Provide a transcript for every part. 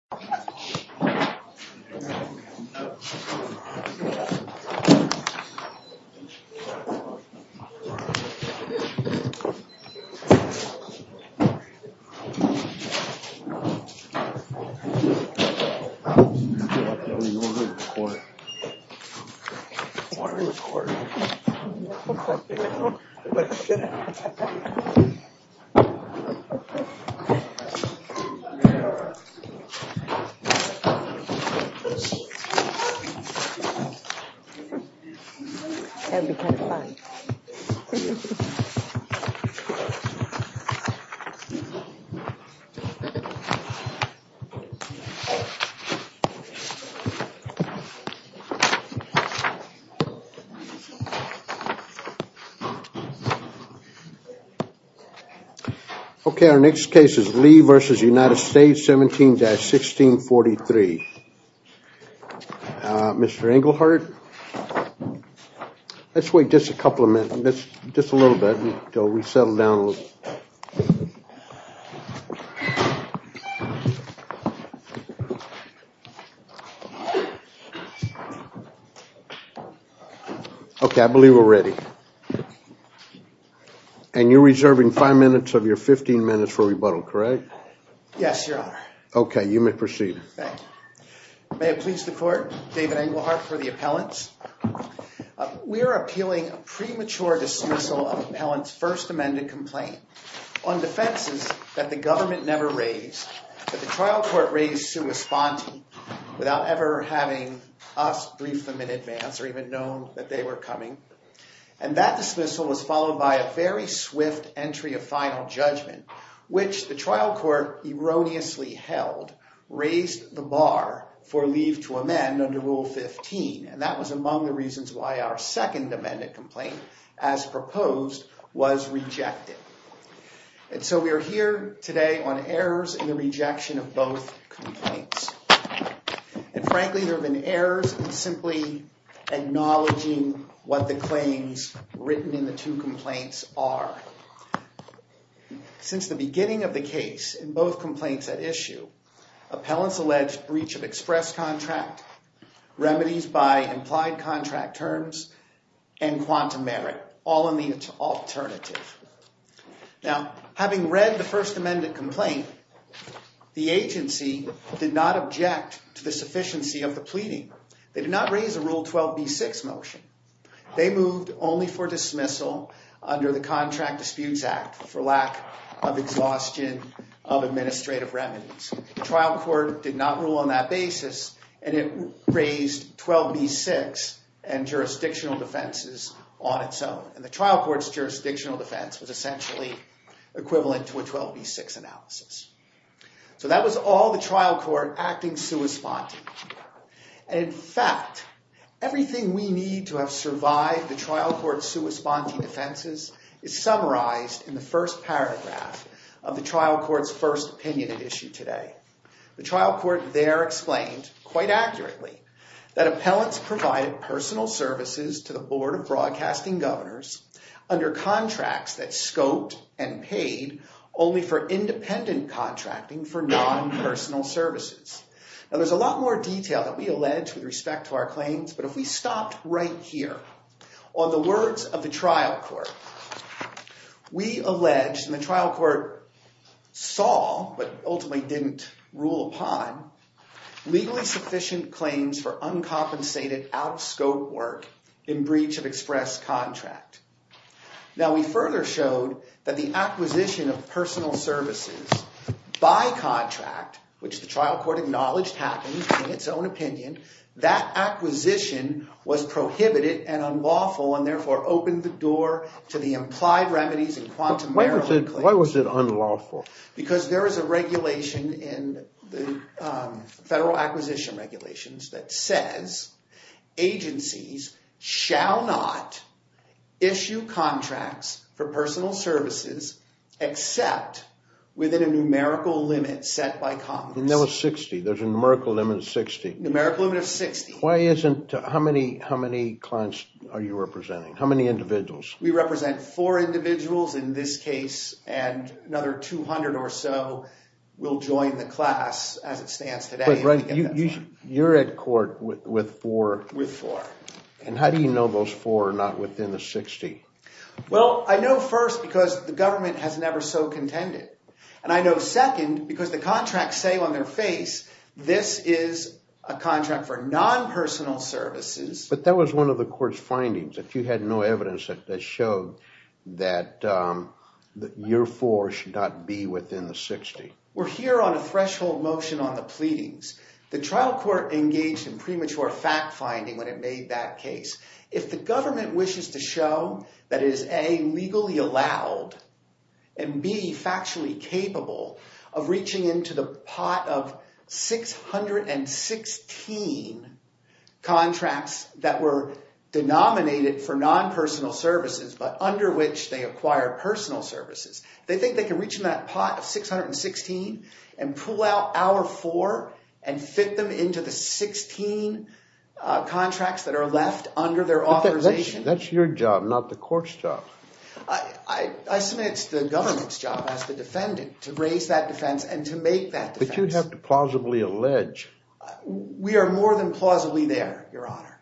17-16. Mr. Engelhardt, let's wait just a couple of minutes, just a little bit, until we settle down a little. Okay, I believe we're ready. And you're reserving five minutes of your 15 minutes for rebuttal, correct? Yes, Your Honor. Okay, you may proceed. Thank you. May it please the Court, David Engelhardt for the appellants. We're appealing a premature dismissal of an appellant's first amended complaint on defenses that the government never raised, that the trial court raised sua sponte, without ever having us brief them in advance, or even known that they were coming. And that dismissal was followed by a very swift entry of final judgment, which the trial court erroneously held, raised the bar for leave to amend under Rule 15, and that was among the reasons why our second amended complaint, as proposed, was rejected. And so we are here today on errors in the rejection of both complaints. And frankly, there have been errors in simply acknowledging what the claims written in the two complaints are. Since the beginning of the case, in both complaints at issue, appellants alleged breach of express contract, remedies by implied contract terms, and quantum merit, all in the alternative. Now having read the first amended complaint, the agency did not object to the sufficiency of the pleading. They did not raise a Rule 12b-6 motion. They moved only for dismissal under the Contract Disputes Act for lack of exhaustion of administrative remedies. The trial court did not rule on that basis, and it raised 12b-6 and jurisdictional defenses on its own. And the trial court's jurisdictional defense was essentially equivalent to a 12b-6 analysis. So that was all the trial court acting sua sponte. And in fact, everything we need to have survived the trial court's sua sponte defenses is summarized in the first paragraph of the trial court's first opinion at issue today. The trial court there explained, quite accurately, that appellants provided personal services to the Board of Broadcasting Governors under contracts that scoped and paid only for independent contracting for non-personal services. Now there's a lot more detail that we allege with respect to our claims, but if we stopped right here on the words of the trial court, we allege, and the trial court saw, but ultimately didn't rule upon, legally sufficient claims for uncompensated, out-of-scope work in breach of express contract. Now we further showed that the acquisition of personal services by contract, which the Board acknowledged happened in its own opinion, that acquisition was prohibited and unlawful and therefore opened the door to the implied remedies in quantum merrily claim. Why was it unlawful? Because there is a regulation in the Federal Acquisition Regulations that says agencies shall not issue contracts for personal services except within a numerical limit set by Congress. And there was 60. There's a numerical limit of 60. Numerical limit of 60. Why isn't... How many clients are you representing? How many individuals? We represent four individuals in this case and another 200 or so will join the class as it stands today. You're at court with four? With four. And how do you know those four are not within the 60? Well, I know first because the government has never so contended. And I know second because the contracts say on their face, this is a contract for non-personal services. But that was one of the court's findings. If you had no evidence that showed that your four should not be within the 60. We're here on a threshold motion on the pleadings. The trial court engaged in premature fact-finding when it made that case. If the government wishes to show that it is A, legally allowed and B, factually capable of reaching into the pot of 616 contracts that were denominated for non-personal services but under which they acquire personal services. They think they can reach in that pot of 616 and pull out our four and fit them into the pot of 616 contracts that are left under their authorization. That's your job, not the court's job. I submit it's the government's job as the defendant to raise that defense and to make that defense. But you'd have to plausibly allege. We are more than plausibly there, Your Honor.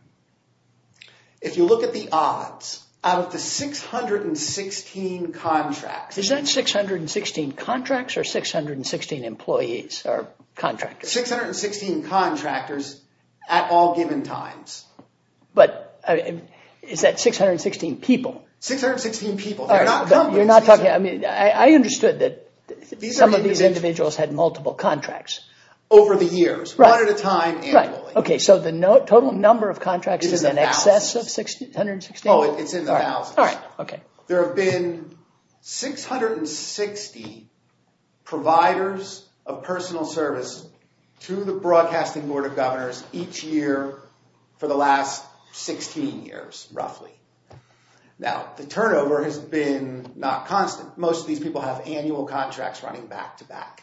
If you look at the odds, out of the 616 contracts. Is that 616 contracts or 616 employees or contractors? 616 contractors at all given times. But is that 616 people? 616 people. You're not talking, I mean, I understood that some of these individuals had multiple contracts. Over the years. Right. One at a time. Right. Okay. So the total number of contracts is in excess of 616? Oh, it's in the thousands. All right. All right. Okay. There have been 660 providers of personal service to the Broadcasting Board of Governors each year for the last 16 years, roughly. Now the turnover has been not constant. Most of these people have annual contracts running back to back.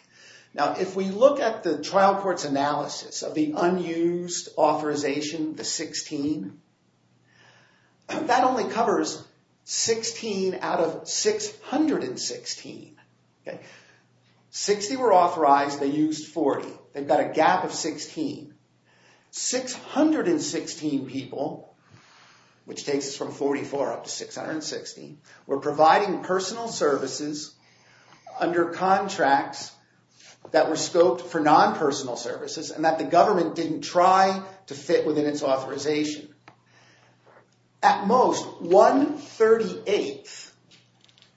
Now if we look at the trial court's analysis of the unused authorization, the 16, that only covers 16 out of 616. Okay. 60 were authorized. They used 40. They've got a gap of 16. 616 people, which takes us from 44 up to 616, were providing personal services under contracts that were scoped for non-personal services and that the government didn't try to fit within its authorization. At most, one 38th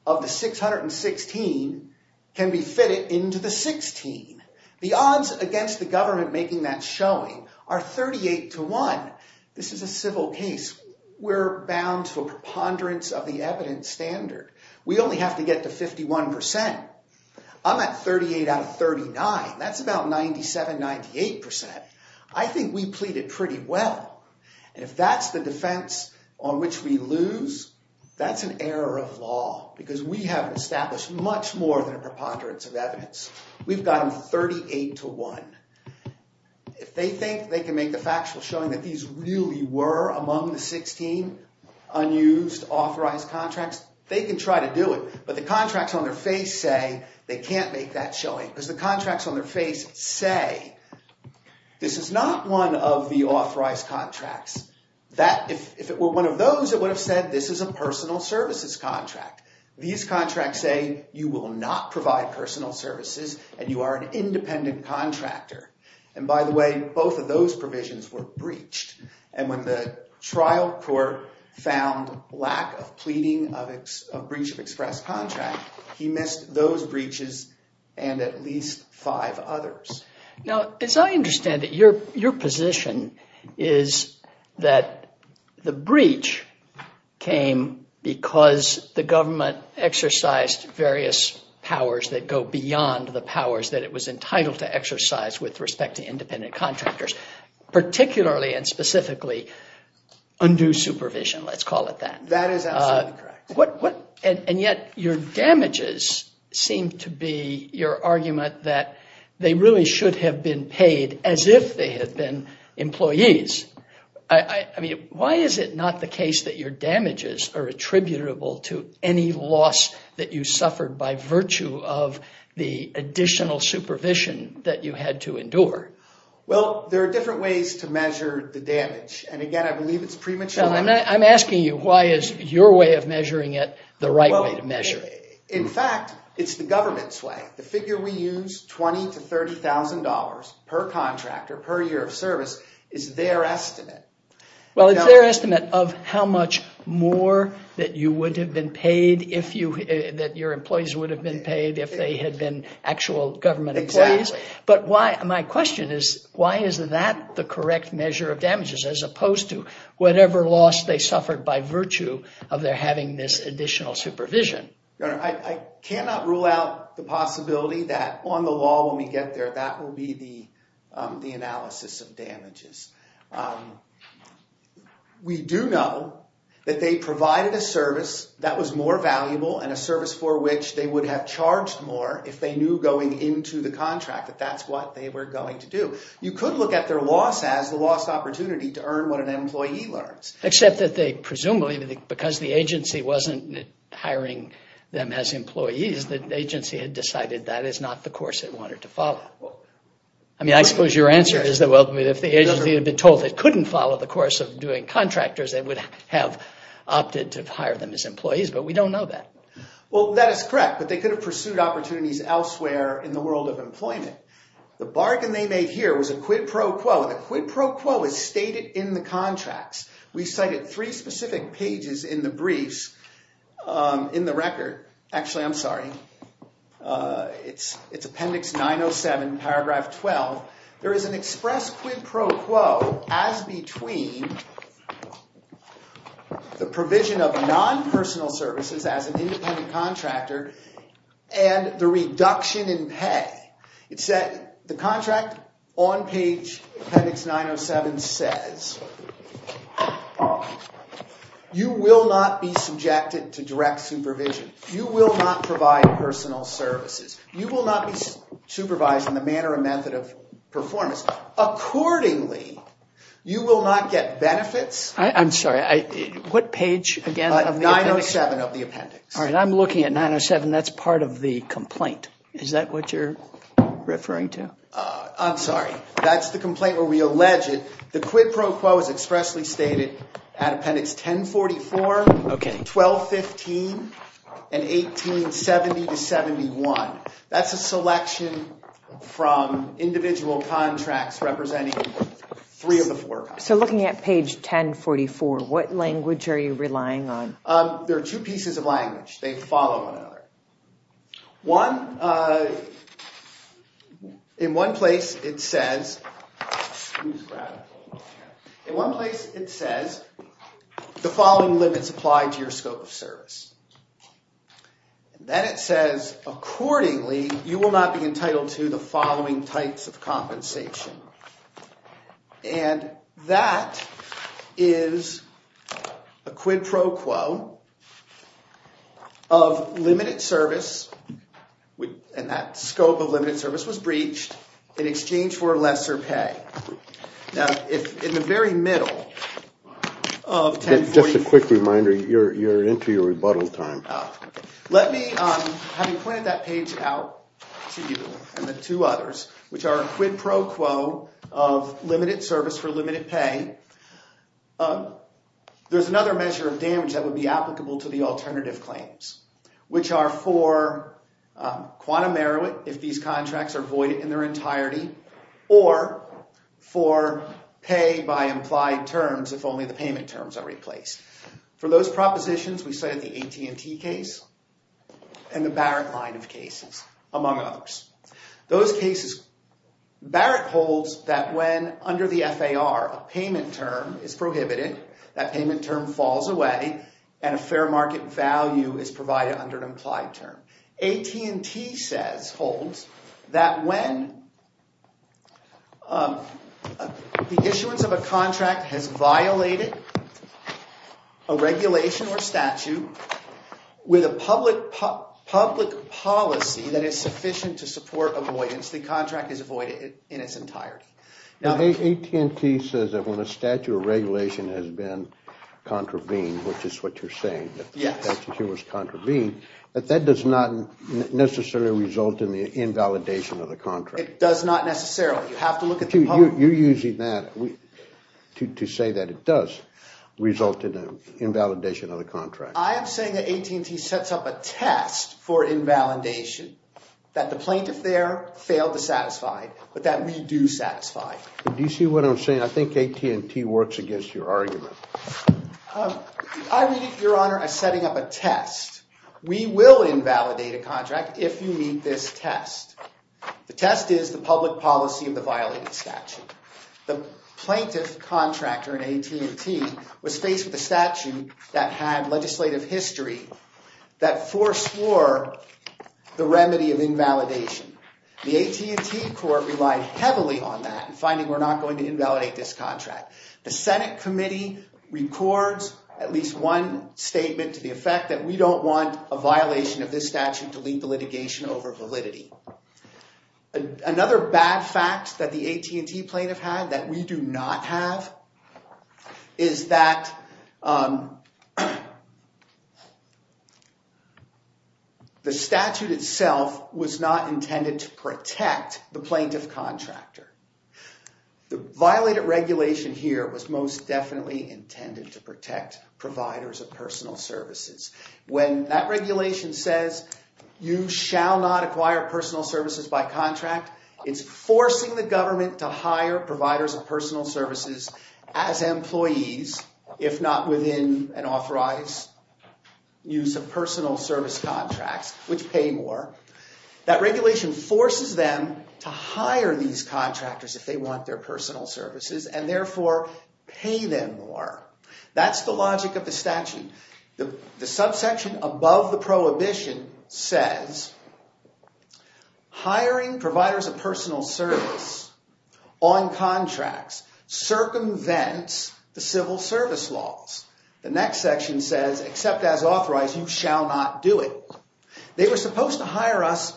of the 616 can be fitted into the 16. The odds against the government making that showing are 38 to 1. This is a civil case. We're bound to a preponderance of the evidence standard. We only have to get to 51%. I'm at 38 out of 39. That's about 97, 98%. I think we pleaded pretty well. And if that's the defense on which we lose, that's an error of law because we haven't established much more than a preponderance of evidence. We've got them 38 to 1. If they think they can make the factual showing that these really were among the 16 unused authorized contracts, they can try to do it. But the contracts on their face say they can't make that showing because the contracts on their face say this is not one of the authorized contracts. If it were one of those, it would have said this is a personal services contract. These contracts say you will not provide personal services and you are an independent contractor. And by the way, both of those provisions were breached. And when the trial court found lack of pleading of breach of express contract, he missed those with others. Now, as I understand it, your position is that the breach came because the government exercised various powers that go beyond the powers that it was entitled to exercise with respect to independent contractors, particularly and specifically undue supervision. Let's call it that. That is absolutely correct. And yet your damages seem to be your argument that they really should have been paid as if they had been employees. Why is it not the case that your damages are attributable to any loss that you suffered by virtue of the additional supervision that you had to endure? Well, there are different ways to measure the damage. And again, I believe it's premature. I'm asking you, why is your way of measuring it the right way to measure? In fact, it's the government's way. The figure we use, $20,000 to $30,000 per contractor per year of service, is their estimate. Well, it's their estimate of how much more that you would have been paid, that your employees would have been paid if they had been actual government employees. But my question is, why is that the correct measure of damages as opposed to whatever loss they suffered by virtue of their having this additional supervision? Your Honor, I cannot rule out the possibility that on the law when we get there, that will be the analysis of damages. We do know that they provided a service that was more valuable and a service for which they would have charged more if they knew going into the contract that that's what they were going to do. You could look at their loss as the lost opportunity to earn what an employee learns. Except that they presumably, because the agency wasn't hiring them as employees, the agency had decided that is not the course it wanted to follow. I mean, I suppose your answer is that if the agency had been told it couldn't follow the course of doing contractors, they would have opted to hire them as employees, but we don't know that. Well, that is correct. But they could have pursued opportunities elsewhere in the world of employment. The bargain they made here was a quid pro quo, and the quid pro quo is stated in the contracts. We cited three specific pages in the briefs, in the record, actually, I'm sorry, it's appendix 907, paragraph 12. There is an express quid pro quo as between the provision of non-personal services as an independent contractor and the reduction in pay. The contract on page appendix 907 says, you will not be subjected to direct supervision. You will not provide personal services. You will not be supervised in the manner or method of performance. Accordingly, you will not get benefits. I'm sorry, what page again of the appendix? 907 of the appendix. All right, I'm looking at 907. That's part of the complaint. Is that what you're referring to? I'm sorry, that's the complaint where we allege it. The quid pro quo is expressly stated at appendix 1044, 1215, and 1870 to 71. That's a selection from individual contracts representing three of the four. So looking at page 1044, what language are you relying on? There are two pieces of language. They follow one another. One, in one place it says, excuse Brad. In one place it says, the following limits apply to your scope of service. Then it says, accordingly, you will not be entitled to the following types of compensation. And that is a quid pro quo of limited service. And that scope of limited service was breached in exchange for lesser pay. Now, in the very middle of 1044. Just a quick reminder, you're into your rebuttal time. Let me, having pointed that page out to you and the two others, which are quid pro quo of limited service for limited pay. There's another measure of damage that would be applicable to the alternative claims. Which are for quantum merit, if these contracts are voided in their entirety. Or for pay by implied terms, if only the payment terms are replaced. For those propositions, we cited the AT&T case and the Barrett line of cases, among others. Those cases, Barrett holds that when under the FAR a payment term is prohibited, that payment term falls away and a fair market value is provided under an implied term. AT&T says, holds, that when the issuance of a contract has violated, a regulation or statute with a public policy that is sufficient to support avoidance, the contract is avoided in its entirety. AT&T says that when a statute or regulation has been contravened, which is what you're saying, that the statute was contravened, that that does not necessarily result in the invalidation of the contract. It does not necessarily. You have to look at the public. You're using that to say that it does result in an invalidation of the contract. I am saying that AT&T sets up a test for invalidation, that the plaintiff there failed to satisfy, but that we do satisfy. Do you see what I'm saying? I think AT&T works against your argument. I read it, Your Honor, as setting up a test. We will invalidate a contract if you meet this test. The test is the public policy of the violated statute. The plaintiff contractor in AT&T was faced with a statute that had legislative history that foreswore the remedy of invalidation. The AT&T court relied heavily on that in finding we're not going to invalidate this contract. The Senate committee records at least one statement to the effect that we don't want a violation of this statute to lead the litigation over validity. Another bad fact that the AT&T plaintiff had that we do not have is that the statute itself was not intended to protect the plaintiff contractor. The violated regulation here was most definitely intended to protect providers of personal services. When that regulation says you shall not acquire personal services by contract, it's forcing the government to hire providers of personal services as employees, if not within an authorized use of personal service contracts, which pay more. That regulation forces them to hire these contractors if they want their personal services and therefore pay them more. That's the logic of the statute. The subsection above the prohibition says hiring providers of personal service on contracts circumvents the civil service laws. The next section says, except as authorized, you shall not do it. They were supposed to hire us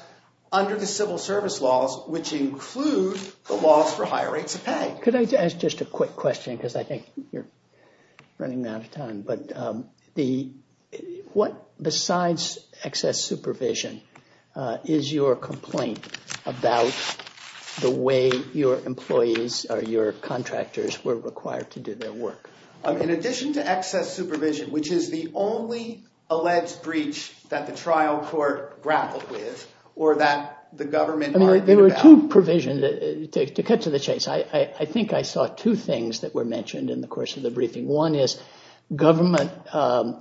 under the civil service laws, which include the laws for higher rates of pay. Could I ask just a quick question? Because I think you're running out of time. But besides excess supervision, is your complaint about the way your employees or your contractors were required to do their work? In addition to excess supervision, which is the only alleged breach that the trial court grappled with or that the government argued about. There were two provisions. To cut to the chase, I think I saw two things that were mentioned in the course of the briefing. One is government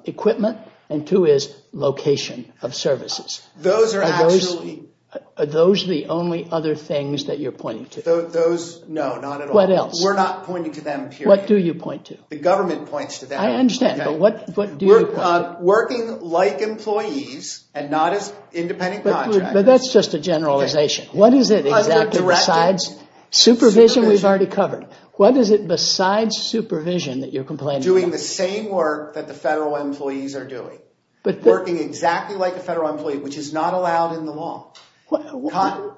equipment and two is location of services. Those are actually... Are those the only other things that you're pointing to? Those, no, not at all. What else? We're not pointing to them, period. What do you point to? The government points to them. I understand, but what do you point to? Working like employees and not as independent contractors. But that's just a generalization. What is it exactly besides supervision we've already covered? What is it besides supervision that you're complaining about? Doing the same work that the federal employees are doing. Working exactly like a federal employee, which is not allowed in the law. What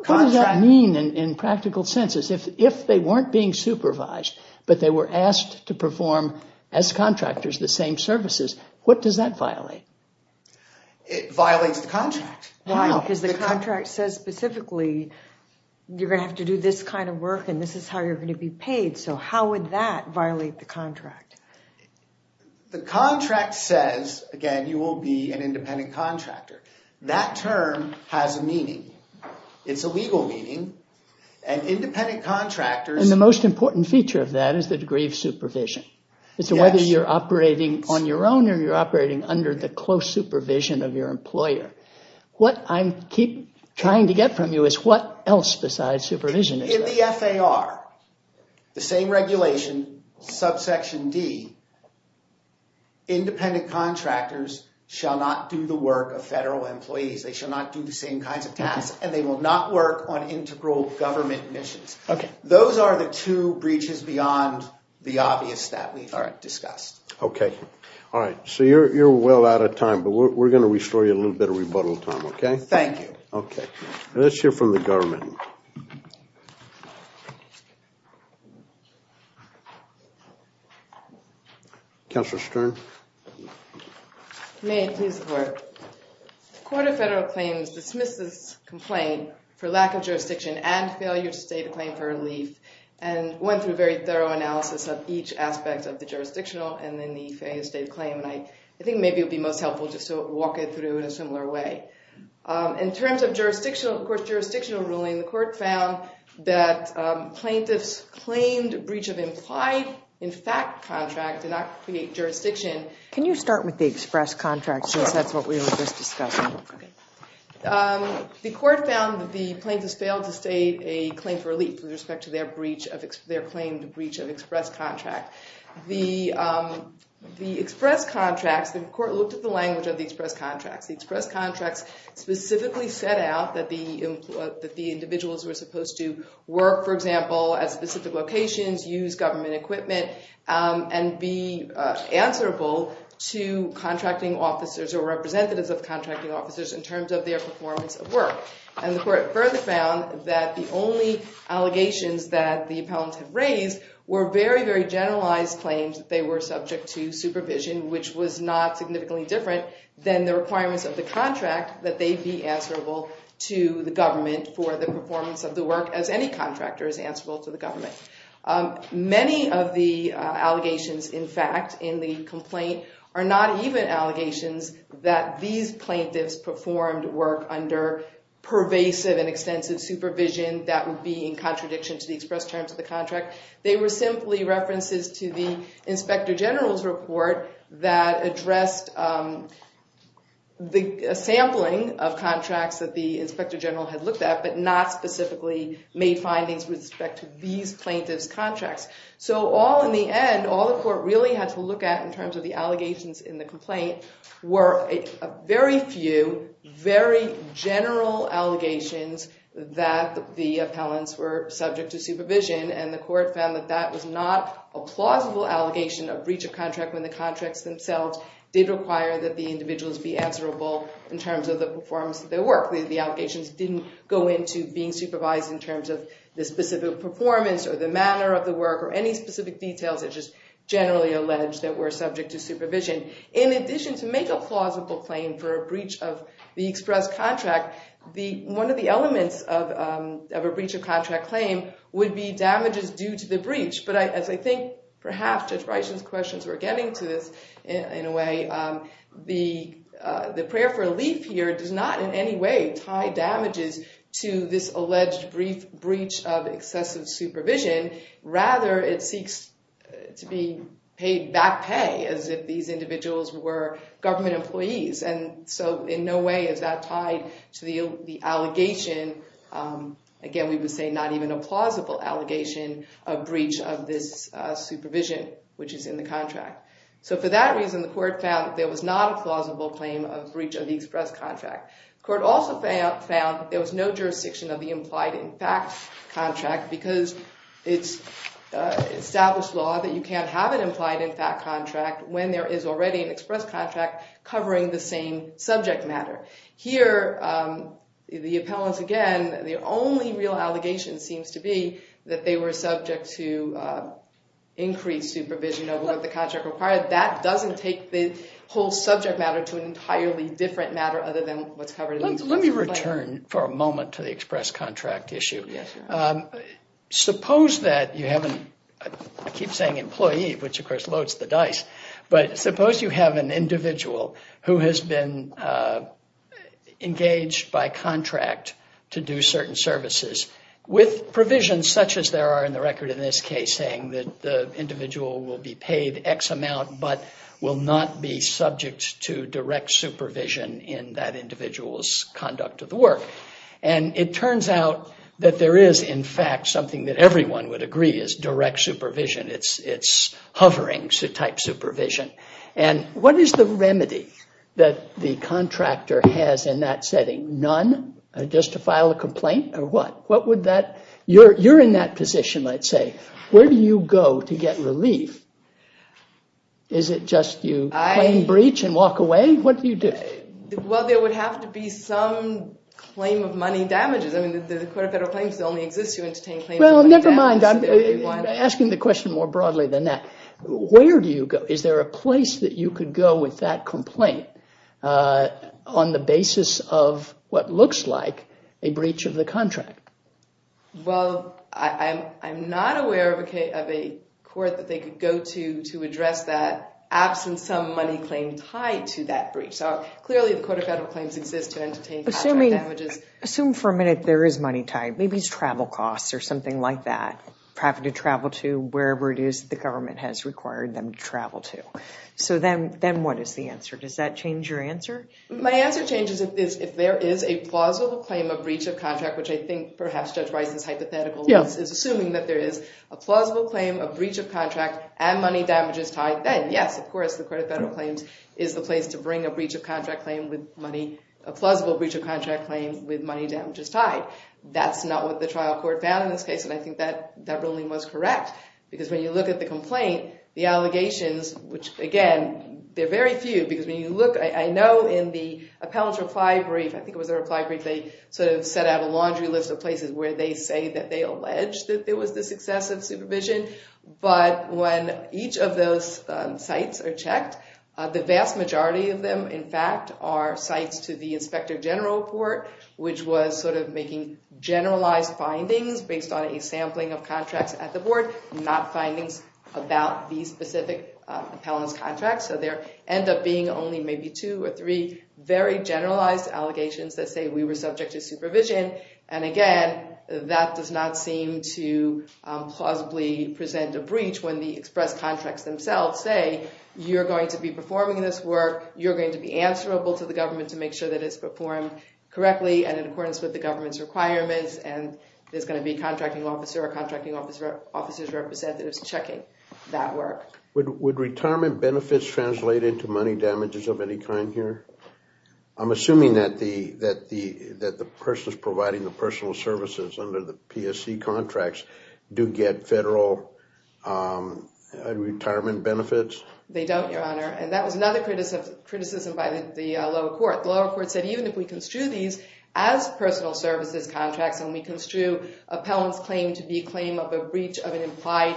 does that mean in practical sense? If they weren't being supervised, but they were asked to perform, as contractors, the same services, what does that violate? It violates the contract. Why? Because the contract says specifically, you're going to have to do this kind of work and this is how you're going to be paid. So how would that violate the contract? The contract says, again, you will be an independent contractor. That term has a meaning. It's a legal meaning. The most important feature of that is the degree of supervision. It's whether you're operating on your own or you're operating under the close supervision of your employer. What I'm trying to get from you is what else besides supervision is there? In the FAR, the same regulation, subsection D, independent contractors shall not do the work of federal employees. They shall not do the same kinds of tasks and they will not work on integral government missions. Those are the two breaches beyond the obvious that we've discussed. Okay. All right. So you're well out of time, but we're going to restore you a little bit of rebuttal time, okay? Thank you. Okay. Let's hear from the government. Counselor Stern? May I please report? The Court of Federal Claims dismissed this complaint for lack of jurisdiction and failure to state a claim for relief and went through a very thorough analysis of each aspect of the jurisdictional and then the failure to state a claim. I think maybe it would be most helpful just to walk it through in a similar way. In terms of jurisdictional ruling, the court found that plaintiffs claimed a breach of implied in fact contract did not create jurisdiction. Can you start with the express contract since that's what we were just discussing? Okay. The court found that the plaintiffs failed to state a claim for relief with respect to their claimed breach of express contract. The express contracts, the court looked at the language of the express contracts. The express contracts specifically set out that the individuals were supposed to work, for example, at specific locations, use government equipment, and be answerable to contracting officers or representatives of contracting officers in terms of their performance of work. And the court further found that the only allegations that the appellants have raised were very, very generalized claims that they were subject to supervision, which was not significantly different than the requirements of the contract that they be answerable to the government for the performance of the work as any contractor is answerable to the government. Many of the allegations, in fact, in the complaint, are not even allegations that these plaintiffs performed work under pervasive and extensive supervision. That would be in contradiction to the express terms of the contract. They were simply references to the inspector general's report that addressed the sampling of contracts that the inspector general had looked at, but not specifically made findings with respect to these plaintiffs' contracts. So all in the end, all the court really had to look at in terms of the allegations in the complaint were a very few, very general allegations that the appellants were subject to supervision, and the court found that that was not a plausible allegation of breach of contract when the contracts themselves did require that the individuals be answerable in terms of the performance of their work. The allegations didn't go into being supervised in terms of the specific performance or the manner of the work or any specific details that are just generally alleged that were subject to supervision. In addition, to make a plausible claim for a breach of the express contract, one of the elements of a breach of contract claim would be damages due to the breach. But as I think perhaps Judge Bryson's questions were getting to this in a way, the prayer for relief here does not in any way tie damages to this alleged breach of excessive supervision. Rather, it seeks to be paid back pay as if these individuals were government employees. And so in no way is that tied to the allegation. Again, we would say not even a plausible allegation of breach of this supervision, which is in the contract. So for that reason, the court found that there was not a plausible claim of breach of the express contract. The court also found that there was no jurisdiction of the implied in fact contract because it's established law that you can't have an implied in fact contract when there is already an express contract covering the same subject matter. Here, the appellants, again, the only real allegation seems to be that they were subject to increased supervision of what the contract required. That doesn't take the whole subject matter to an entirely different matter other than what's covered in the express contract. Let me return for a moment to the express contract issue. Yes, sir. Suppose that you have an, I keep saying employee, which of course loads the dice, but suppose you have an individual who has been engaged by contract to do certain services with provisions such as there are in the record in this case saying that the individual will be paid X amount but will not be subject to direct supervision in that individual's conduct of the work. And it turns out that there is in fact something that everyone would agree is direct supervision. It's hovering type supervision. And what is the remedy that the contractor has in that setting? None, just to file a complaint, or what? You're in that position, I'd say. Where do you go to get relief? Is it just you claim breach and walk away? What do you do? Well, there would have to be some claim of money damages. Well, never mind. I'm asking the question more broadly than that. Where do you go? Is there a place that you could go with that complaint on the basis of what looks like a breach of the contract? Well, I'm not aware of a court that they could go to to address that absent some money claim tied to that breach. So clearly the court of federal claims exists to entertain contract damages. Assume for a minute there is money tied. Maybe it's travel costs or something like that. Traffic to travel to wherever it is the government has required them to travel to. So then what is the answer? Does that change your answer? My answer changes if there is a plausible claim of breach of contract, which I think perhaps Judge Rice's hypothetical is assuming that there is a plausible claim of breach of contract and money damages tied. Then yes, of course, the court of federal claims is the place to bring a breach of contract claim with money, a plausible breach of contract claim with money damages tied. That's not what the trial court found in this case. And I think that that ruling was correct. Because when you look at the complaint, the allegations, which again, they're very few, because when you look, I know in the appellant's reply brief, I think it was a reply brief, they sort of set out a laundry list of places where they say that they allege that there was this excessive supervision. But when each of those sites are checked, the vast majority of them, in fact, are sites to the inspector general report, which was sort of making generalized findings based on a sampling of contracts at the board, not findings about these specific appellant's contracts. So there end up being only maybe two or three very generalized allegations that say we were subject to supervision. And again, that does not seem to plausibly present a breach when the express contracts themselves say, you're going to be performing this work. You're going to be answerable to the government to make sure that it's performed correctly and in accordance with the government's requirements. And there's going to be a contracting officer or contracting officer's representatives checking that work. Would retirement benefits translate into money damages of any kind here? I'm assuming that the persons providing the personal services under the PSC contracts do get federal retirement benefits. They don't, Your Honor. And that was another criticism by the lower court. The lower court said even if we construe these as personal services contracts and we construe appellant's claim to be a claim of a breach of an implied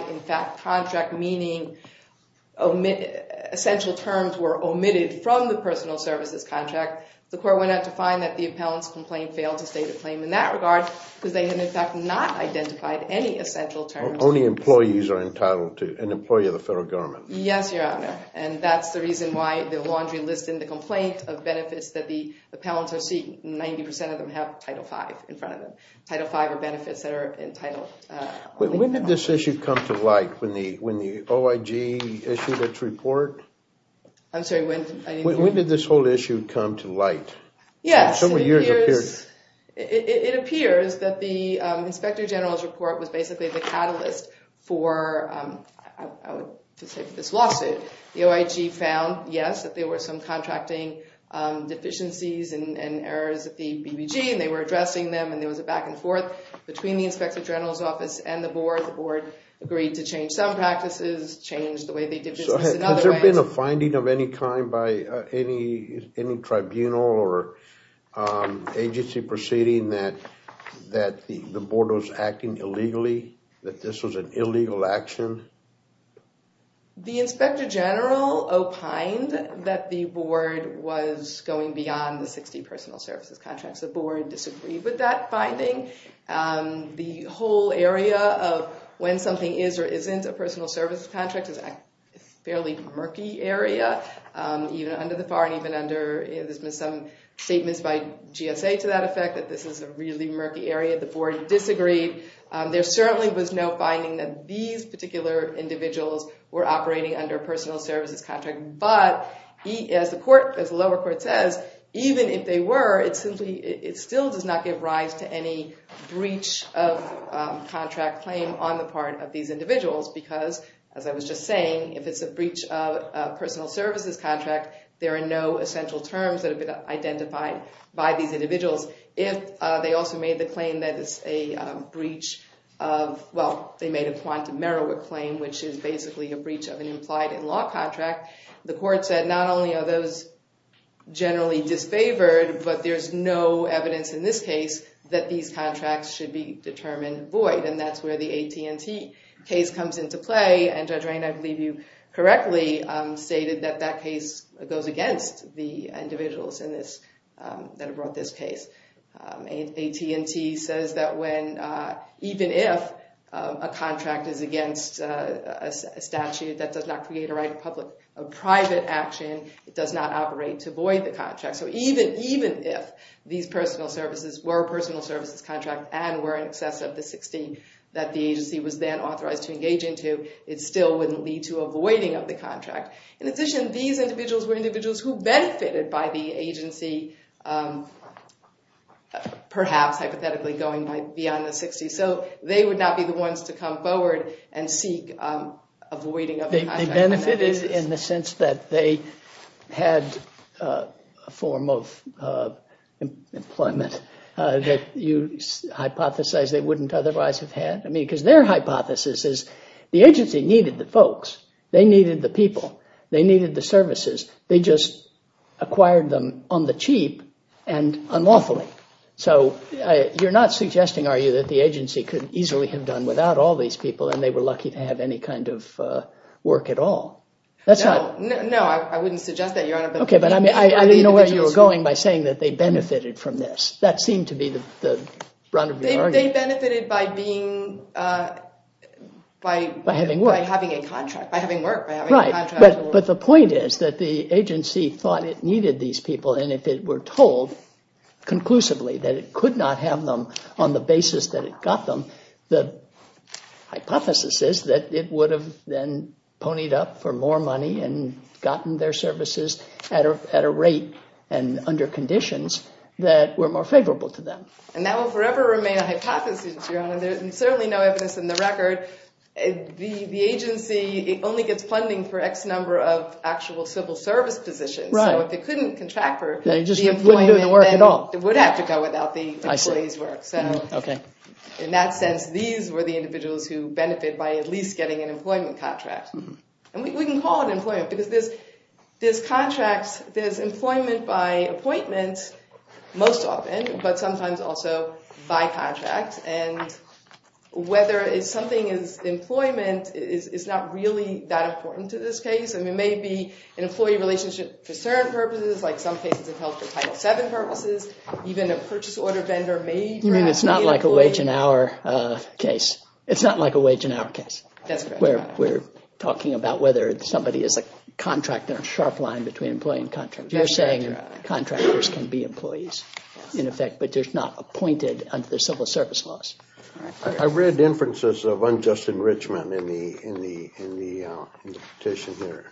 contract, meaning essential terms were omitted from the personal services contract, the court went on to find that the appellant's complaint failed to state a claim in that regard because they had in fact not identified any essential terms. Only employees are entitled to, an employee of the federal government. Yes, Your Honor. And that's the reason why the laundry list in the complaint of benefits that the appellants are seeking, 90% of them have Title V in front of them. Title V are benefits that are entitled. When did this issue come to light when the OIG issued its report? I'm sorry, when? When did this whole issue come to light? Yes, it appears that the Inspector General's report was basically the catalyst for this lawsuit. The OIG found, yes, that there were some contracting deficiencies and errors at the BBG, and they were addressing them, and there was a back and forth between the Inspector General's office and the board. The board agreed to change some practices, change the way they did business in other ways. Has there been a finding of any kind by any tribunal or agency proceeding that the board was acting illegally, that this was an illegal action? The Inspector General opined that the board was going beyond the 60 personal services contracts. The whole area of when something is or isn't a personal services contract is a fairly murky area, even under the FAR and even under some statements by GSA to that effect, that this is a really murky area. The board disagreed. There certainly was no finding that these particular individuals were operating under a personal services contract. As the lower court says, even if they were, it still does not give rise to any breach of contract claim on the part of these individuals, because, as I was just saying, if it's a breach of a personal services contract, there are no essential terms that have been identified by these individuals. If they also made the claim that it's a breach of, well, they made a quantum merit claim, which is basically a breach of an implied in-law contract, the court said, not only are those generally disfavored, but there's no evidence in this case that these contracts should be determined void. And that's where the AT&T case comes into play. And Judge Rayne, I believe you correctly stated that that case goes against the individuals that have brought this case. AT&T says that even if a contract is against a statute that does not create a right of private action, it does not operate to void the contract. So even if these personal services were a personal services contract and were in excess of the 16 that the agency was then authorized to engage into, it still wouldn't lead to avoiding of the contract. In addition, these individuals were individuals who benefited by the agency perhaps hypothetically going beyond the 60. So they would not be the ones to come forward and seek avoiding of the contract. They benefited in the sense that they had a form of employment that you hypothesize they wouldn't otherwise have had. I mean, because their hypothesis is the agency needed the folks, they needed the people, they needed the services. They just acquired them on the cheap and unlawfully. So you're not suggesting, are you, that the agency could easily have done without all these people and they were lucky to have any kind of work at all? No, I wouldn't suggest that, Your Honor. OK, but I didn't know where you were going by saying that they benefited from this. That seemed to be the brunt of your argument. They benefited by having work. Right, but the point is that the agency thought it needed these people, and if it were told conclusively that it could not have them on the basis that it got them, the hypothesis is that it would have then ponied up for more money and gotten their services at a rate and under conditions that were more favorable to them. And that will forever remain a hypothesis, Your Honor. There's certainly no evidence in the record. The agency only gets funding for X number of actual civil service positions. So if it couldn't contract for the employment, then it would have to go without the employees' work. So in that sense, these were the individuals who benefit by at least getting an employment contract. And we can call it employment, because there's employment by appointment most often, but sometimes also by contract. And whether it's something as employment, it's not really that important to this case. And it may be an employee relationship for certain purposes, like some cases it held for Title VII purposes. Even a purchase order vendor may perhaps be an employee. You mean it's not like a wage and hour case? It's not like a wage and hour case. That's correct. We're talking about whether somebody is a contract and a sharp line between employee and contract. You're saying contractors can be employees, in effect, but they're not appointed under the civil service laws. I read inferences of unjust enrichment in the petition here,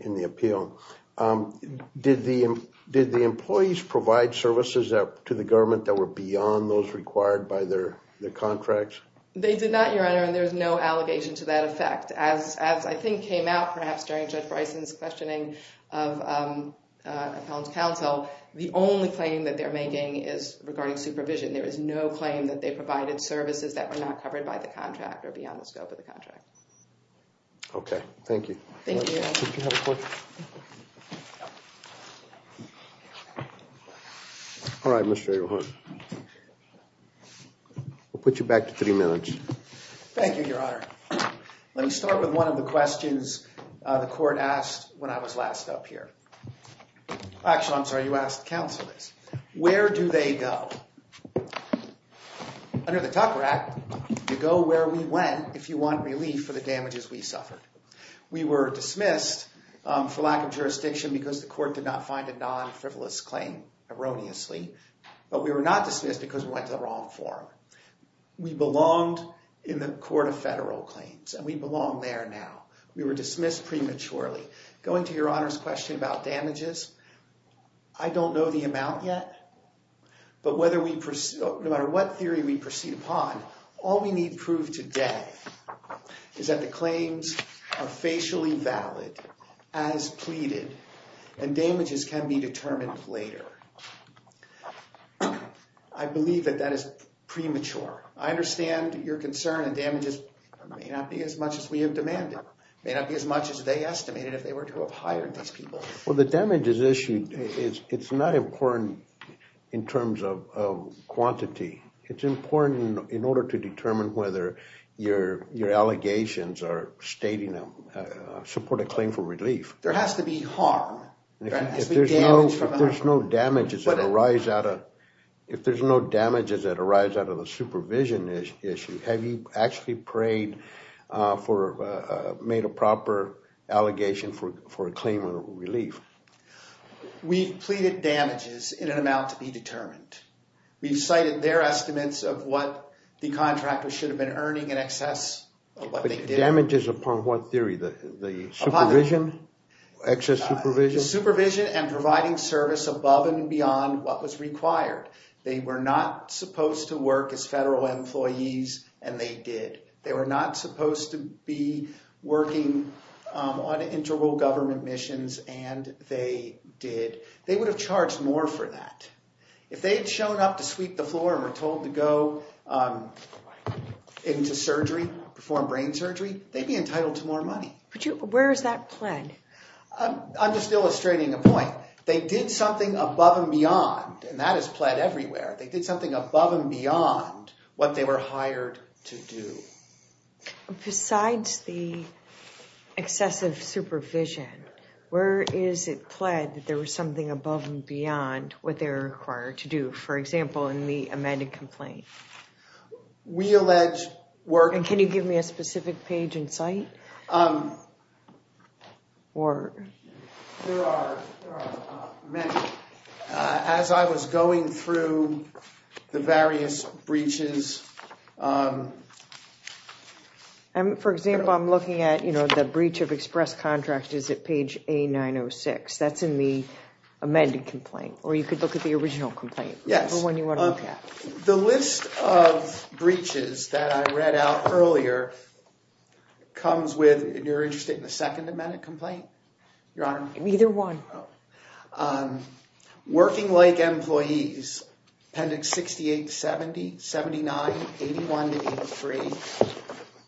in the appeal. Did the employees provide services to the government that were beyond those required by their contracts? They did not, Your Honor, and there's no allegation to that effect. As I think came out, perhaps, during Judge Bryson's questioning of Collins Counsel, the only claim that they're making is regarding supervision. There is no claim that they provided services that were not covered by the contract or beyond the scope of the contract. Okay. Thank you. Thank you, Your Honor. All right, Mr. O'Hara. I'll put you back to three minutes. Thank you, Your Honor. Let me start with one of the questions the court asked when I was last up here. Actually, I'm sorry, you asked the counsel this. Where do they go? Under the Tucker Act, you go where we went if you want relief for the damages we suffered. We were dismissed for lack of jurisdiction because the court did not find a non-frivolous claim erroneously. But we were not dismissed because we went to the wrong forum. We belonged in the Court of Federal Claims, and we belong there now. We were dismissed prematurely. Going to Your Honor's question about damages, I don't know the amount yet. But no matter what theory we proceed upon, all we need to prove today is that the claims are facially valid, as pleaded, and damages can be determined later. I believe that that is premature. I understand your concern that damages may not be as much as we have demanded, may not be as much as they estimated if they were to have hired these people. Well, the damages issued, it's not important in terms of quantity. It's important in order to determine whether your allegations are stating a supported claim for relief. There has to be harm. If there's no damages that arise out of the supervision issue, have you actually made a proper allegation for a claim of relief? We've pleaded damages in an amount to be determined. We've cited their estimates of what the contractor should have been earning in excess of what they did. Damages upon what theory? The supervision? Excess supervision? Supervision and providing service above and beyond what was required. They were not supposed to work as federal employees, and they did. They were not supposed to be working on integral government missions, and they did. They would have charged more for that. If they had shown up to sweep the floor and were told to go into surgery, perform brain surgery, they'd be entitled to more money. Where is that pled? I'm just illustrating a point. They did something above and beyond, and that is pled everywhere. They did something above and beyond what they were hired to do. Besides the excessive supervision, where is it pled that there was something above and beyond what they were required to do? For example, in the amended complaint. We allege work... Can you give me a specific page in sight? There are many. As I was going through the various breaches... For example, I'm looking at the breach of express contract is at page A906. That's in the amended complaint, or you could look at the original complaint. Yes. The one you want to look at. The list of breaches that I read out earlier comes with... You're interested in the second amended complaint, Your Honor? Either one. Working like employees, appendix 68 to 70, 79, 81 to 83,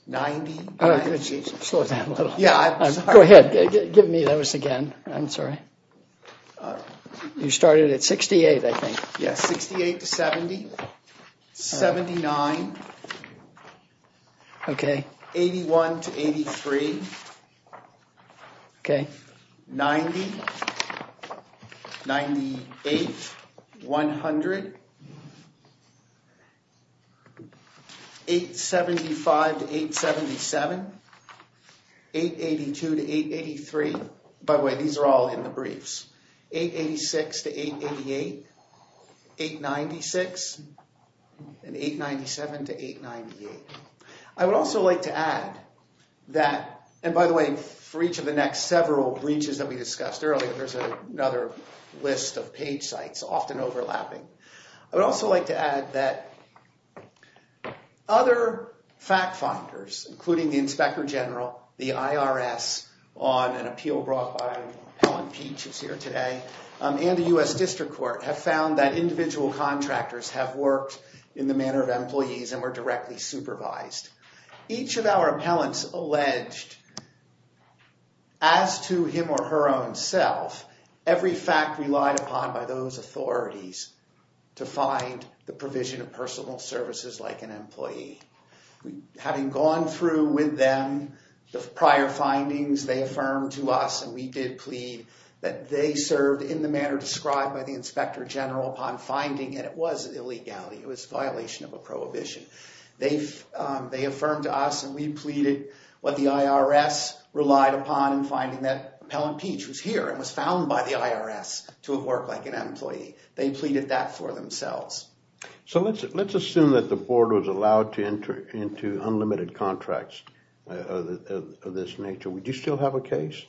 90... Slow down a little. Yeah, I'm sorry. Go ahead. Give me those again. I'm sorry. You started at 68, I think. Yes, 68 to 70. 79. Okay. 81 to 83. Okay. 90. 98. 100. 875 to 877. 882 to 883. By the way, these are all in the briefs. 886 to 888. 896. And 897 to 898. I would also like to add that... And by the way, for each of the next several breaches that we discussed earlier, there's another list of page sites, often overlapping. I would also like to add that other fact-finders, including the Inspector General, the IRS, on an appeal brought by Appellant Peach, who's here today, and the U.S. District Court have found that individual contractors have worked in the manner of employees and were directly supervised. Each of our appellants alleged, as to him or her own self, every fact relied upon by those authorities to find the provision of personal services like an employee. Having gone through with them the prior findings, they affirmed to us, and we did plead, that they served in the manner described by the Inspector General upon finding that it was an illegality, it was a violation of a prohibition. They affirmed to us, and we pleaded, what the IRS relied upon in finding that Appellant Peach was here and was found by the IRS to have worked like an employee. They pleaded that for themselves. So let's assume that the board was allowed to enter into unlimited contracts of this nature. Would you still have a case?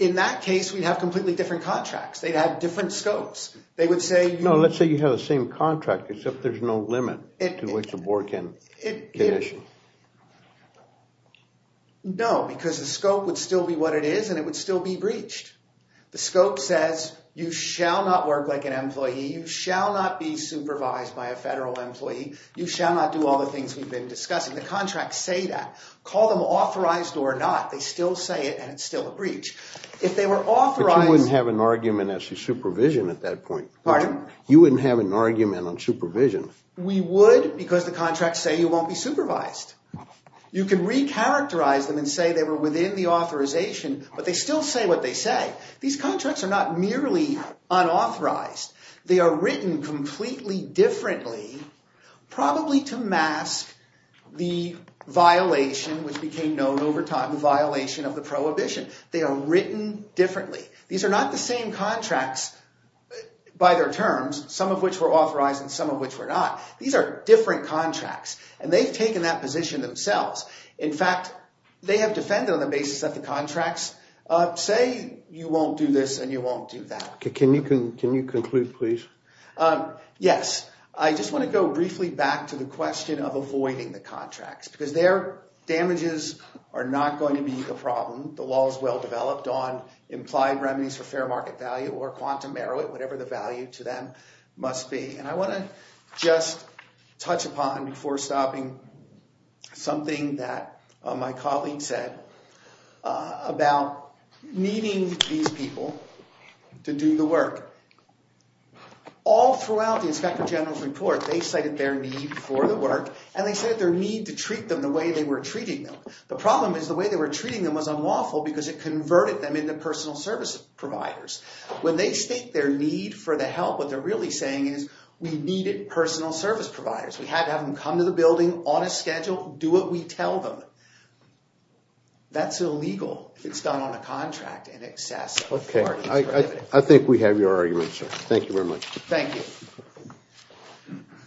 In that case, we'd have completely different contracts. They'd have different scopes. No, let's say you have the same contract, except there's no limit to which the board can issue. No, because the scope would still be what it is, and it would still be breached. The scope says, you shall not work like an employee, you shall not be supervised by a federal employee, you shall not do all the things we've been discussing. The contracts say that. Call them authorized or not, they still say it, and it's still a breach. But you wouldn't have an argument as to supervision at that point. Pardon? You wouldn't have an argument on supervision. We would, because the contracts say you won't be supervised. You can recharacterize them and say they were within the authorization, but they still say what they say. These contracts are not merely unauthorized. They are written completely differently, probably to mask the violation, which became known over time, the violation of the prohibition. They are written differently. These are not the same contracts by their terms, some of which were authorized and some of which were not. These are different contracts, and they've taken that position themselves. In fact, they have defended on the basis that the contracts say you won't do this and you won't do that. Can you conclude, please? Yes. I just want to go briefly back to the question of avoiding the contracts, because their damages are not going to be the problem. The law is well developed on implied remedies for fair market value or quantum merit, whatever the value to them must be. And I want to just touch upon, before stopping, something that my colleague said about needing these people to do the work. All throughout the Inspector General's report, they cited their need for the work, and they said their need to treat them the way they were treating them. The problem is the way they were treating them was unlawful because it converted them into personal service providers. When they state their need for the help, what they're really saying is we needed personal service providers. We had to have them come to the building on a schedule, do what we tell them. That's illegal if it's done on a contract in excess of four years. I think we have your argument, sir. Thank you very much. Thank you.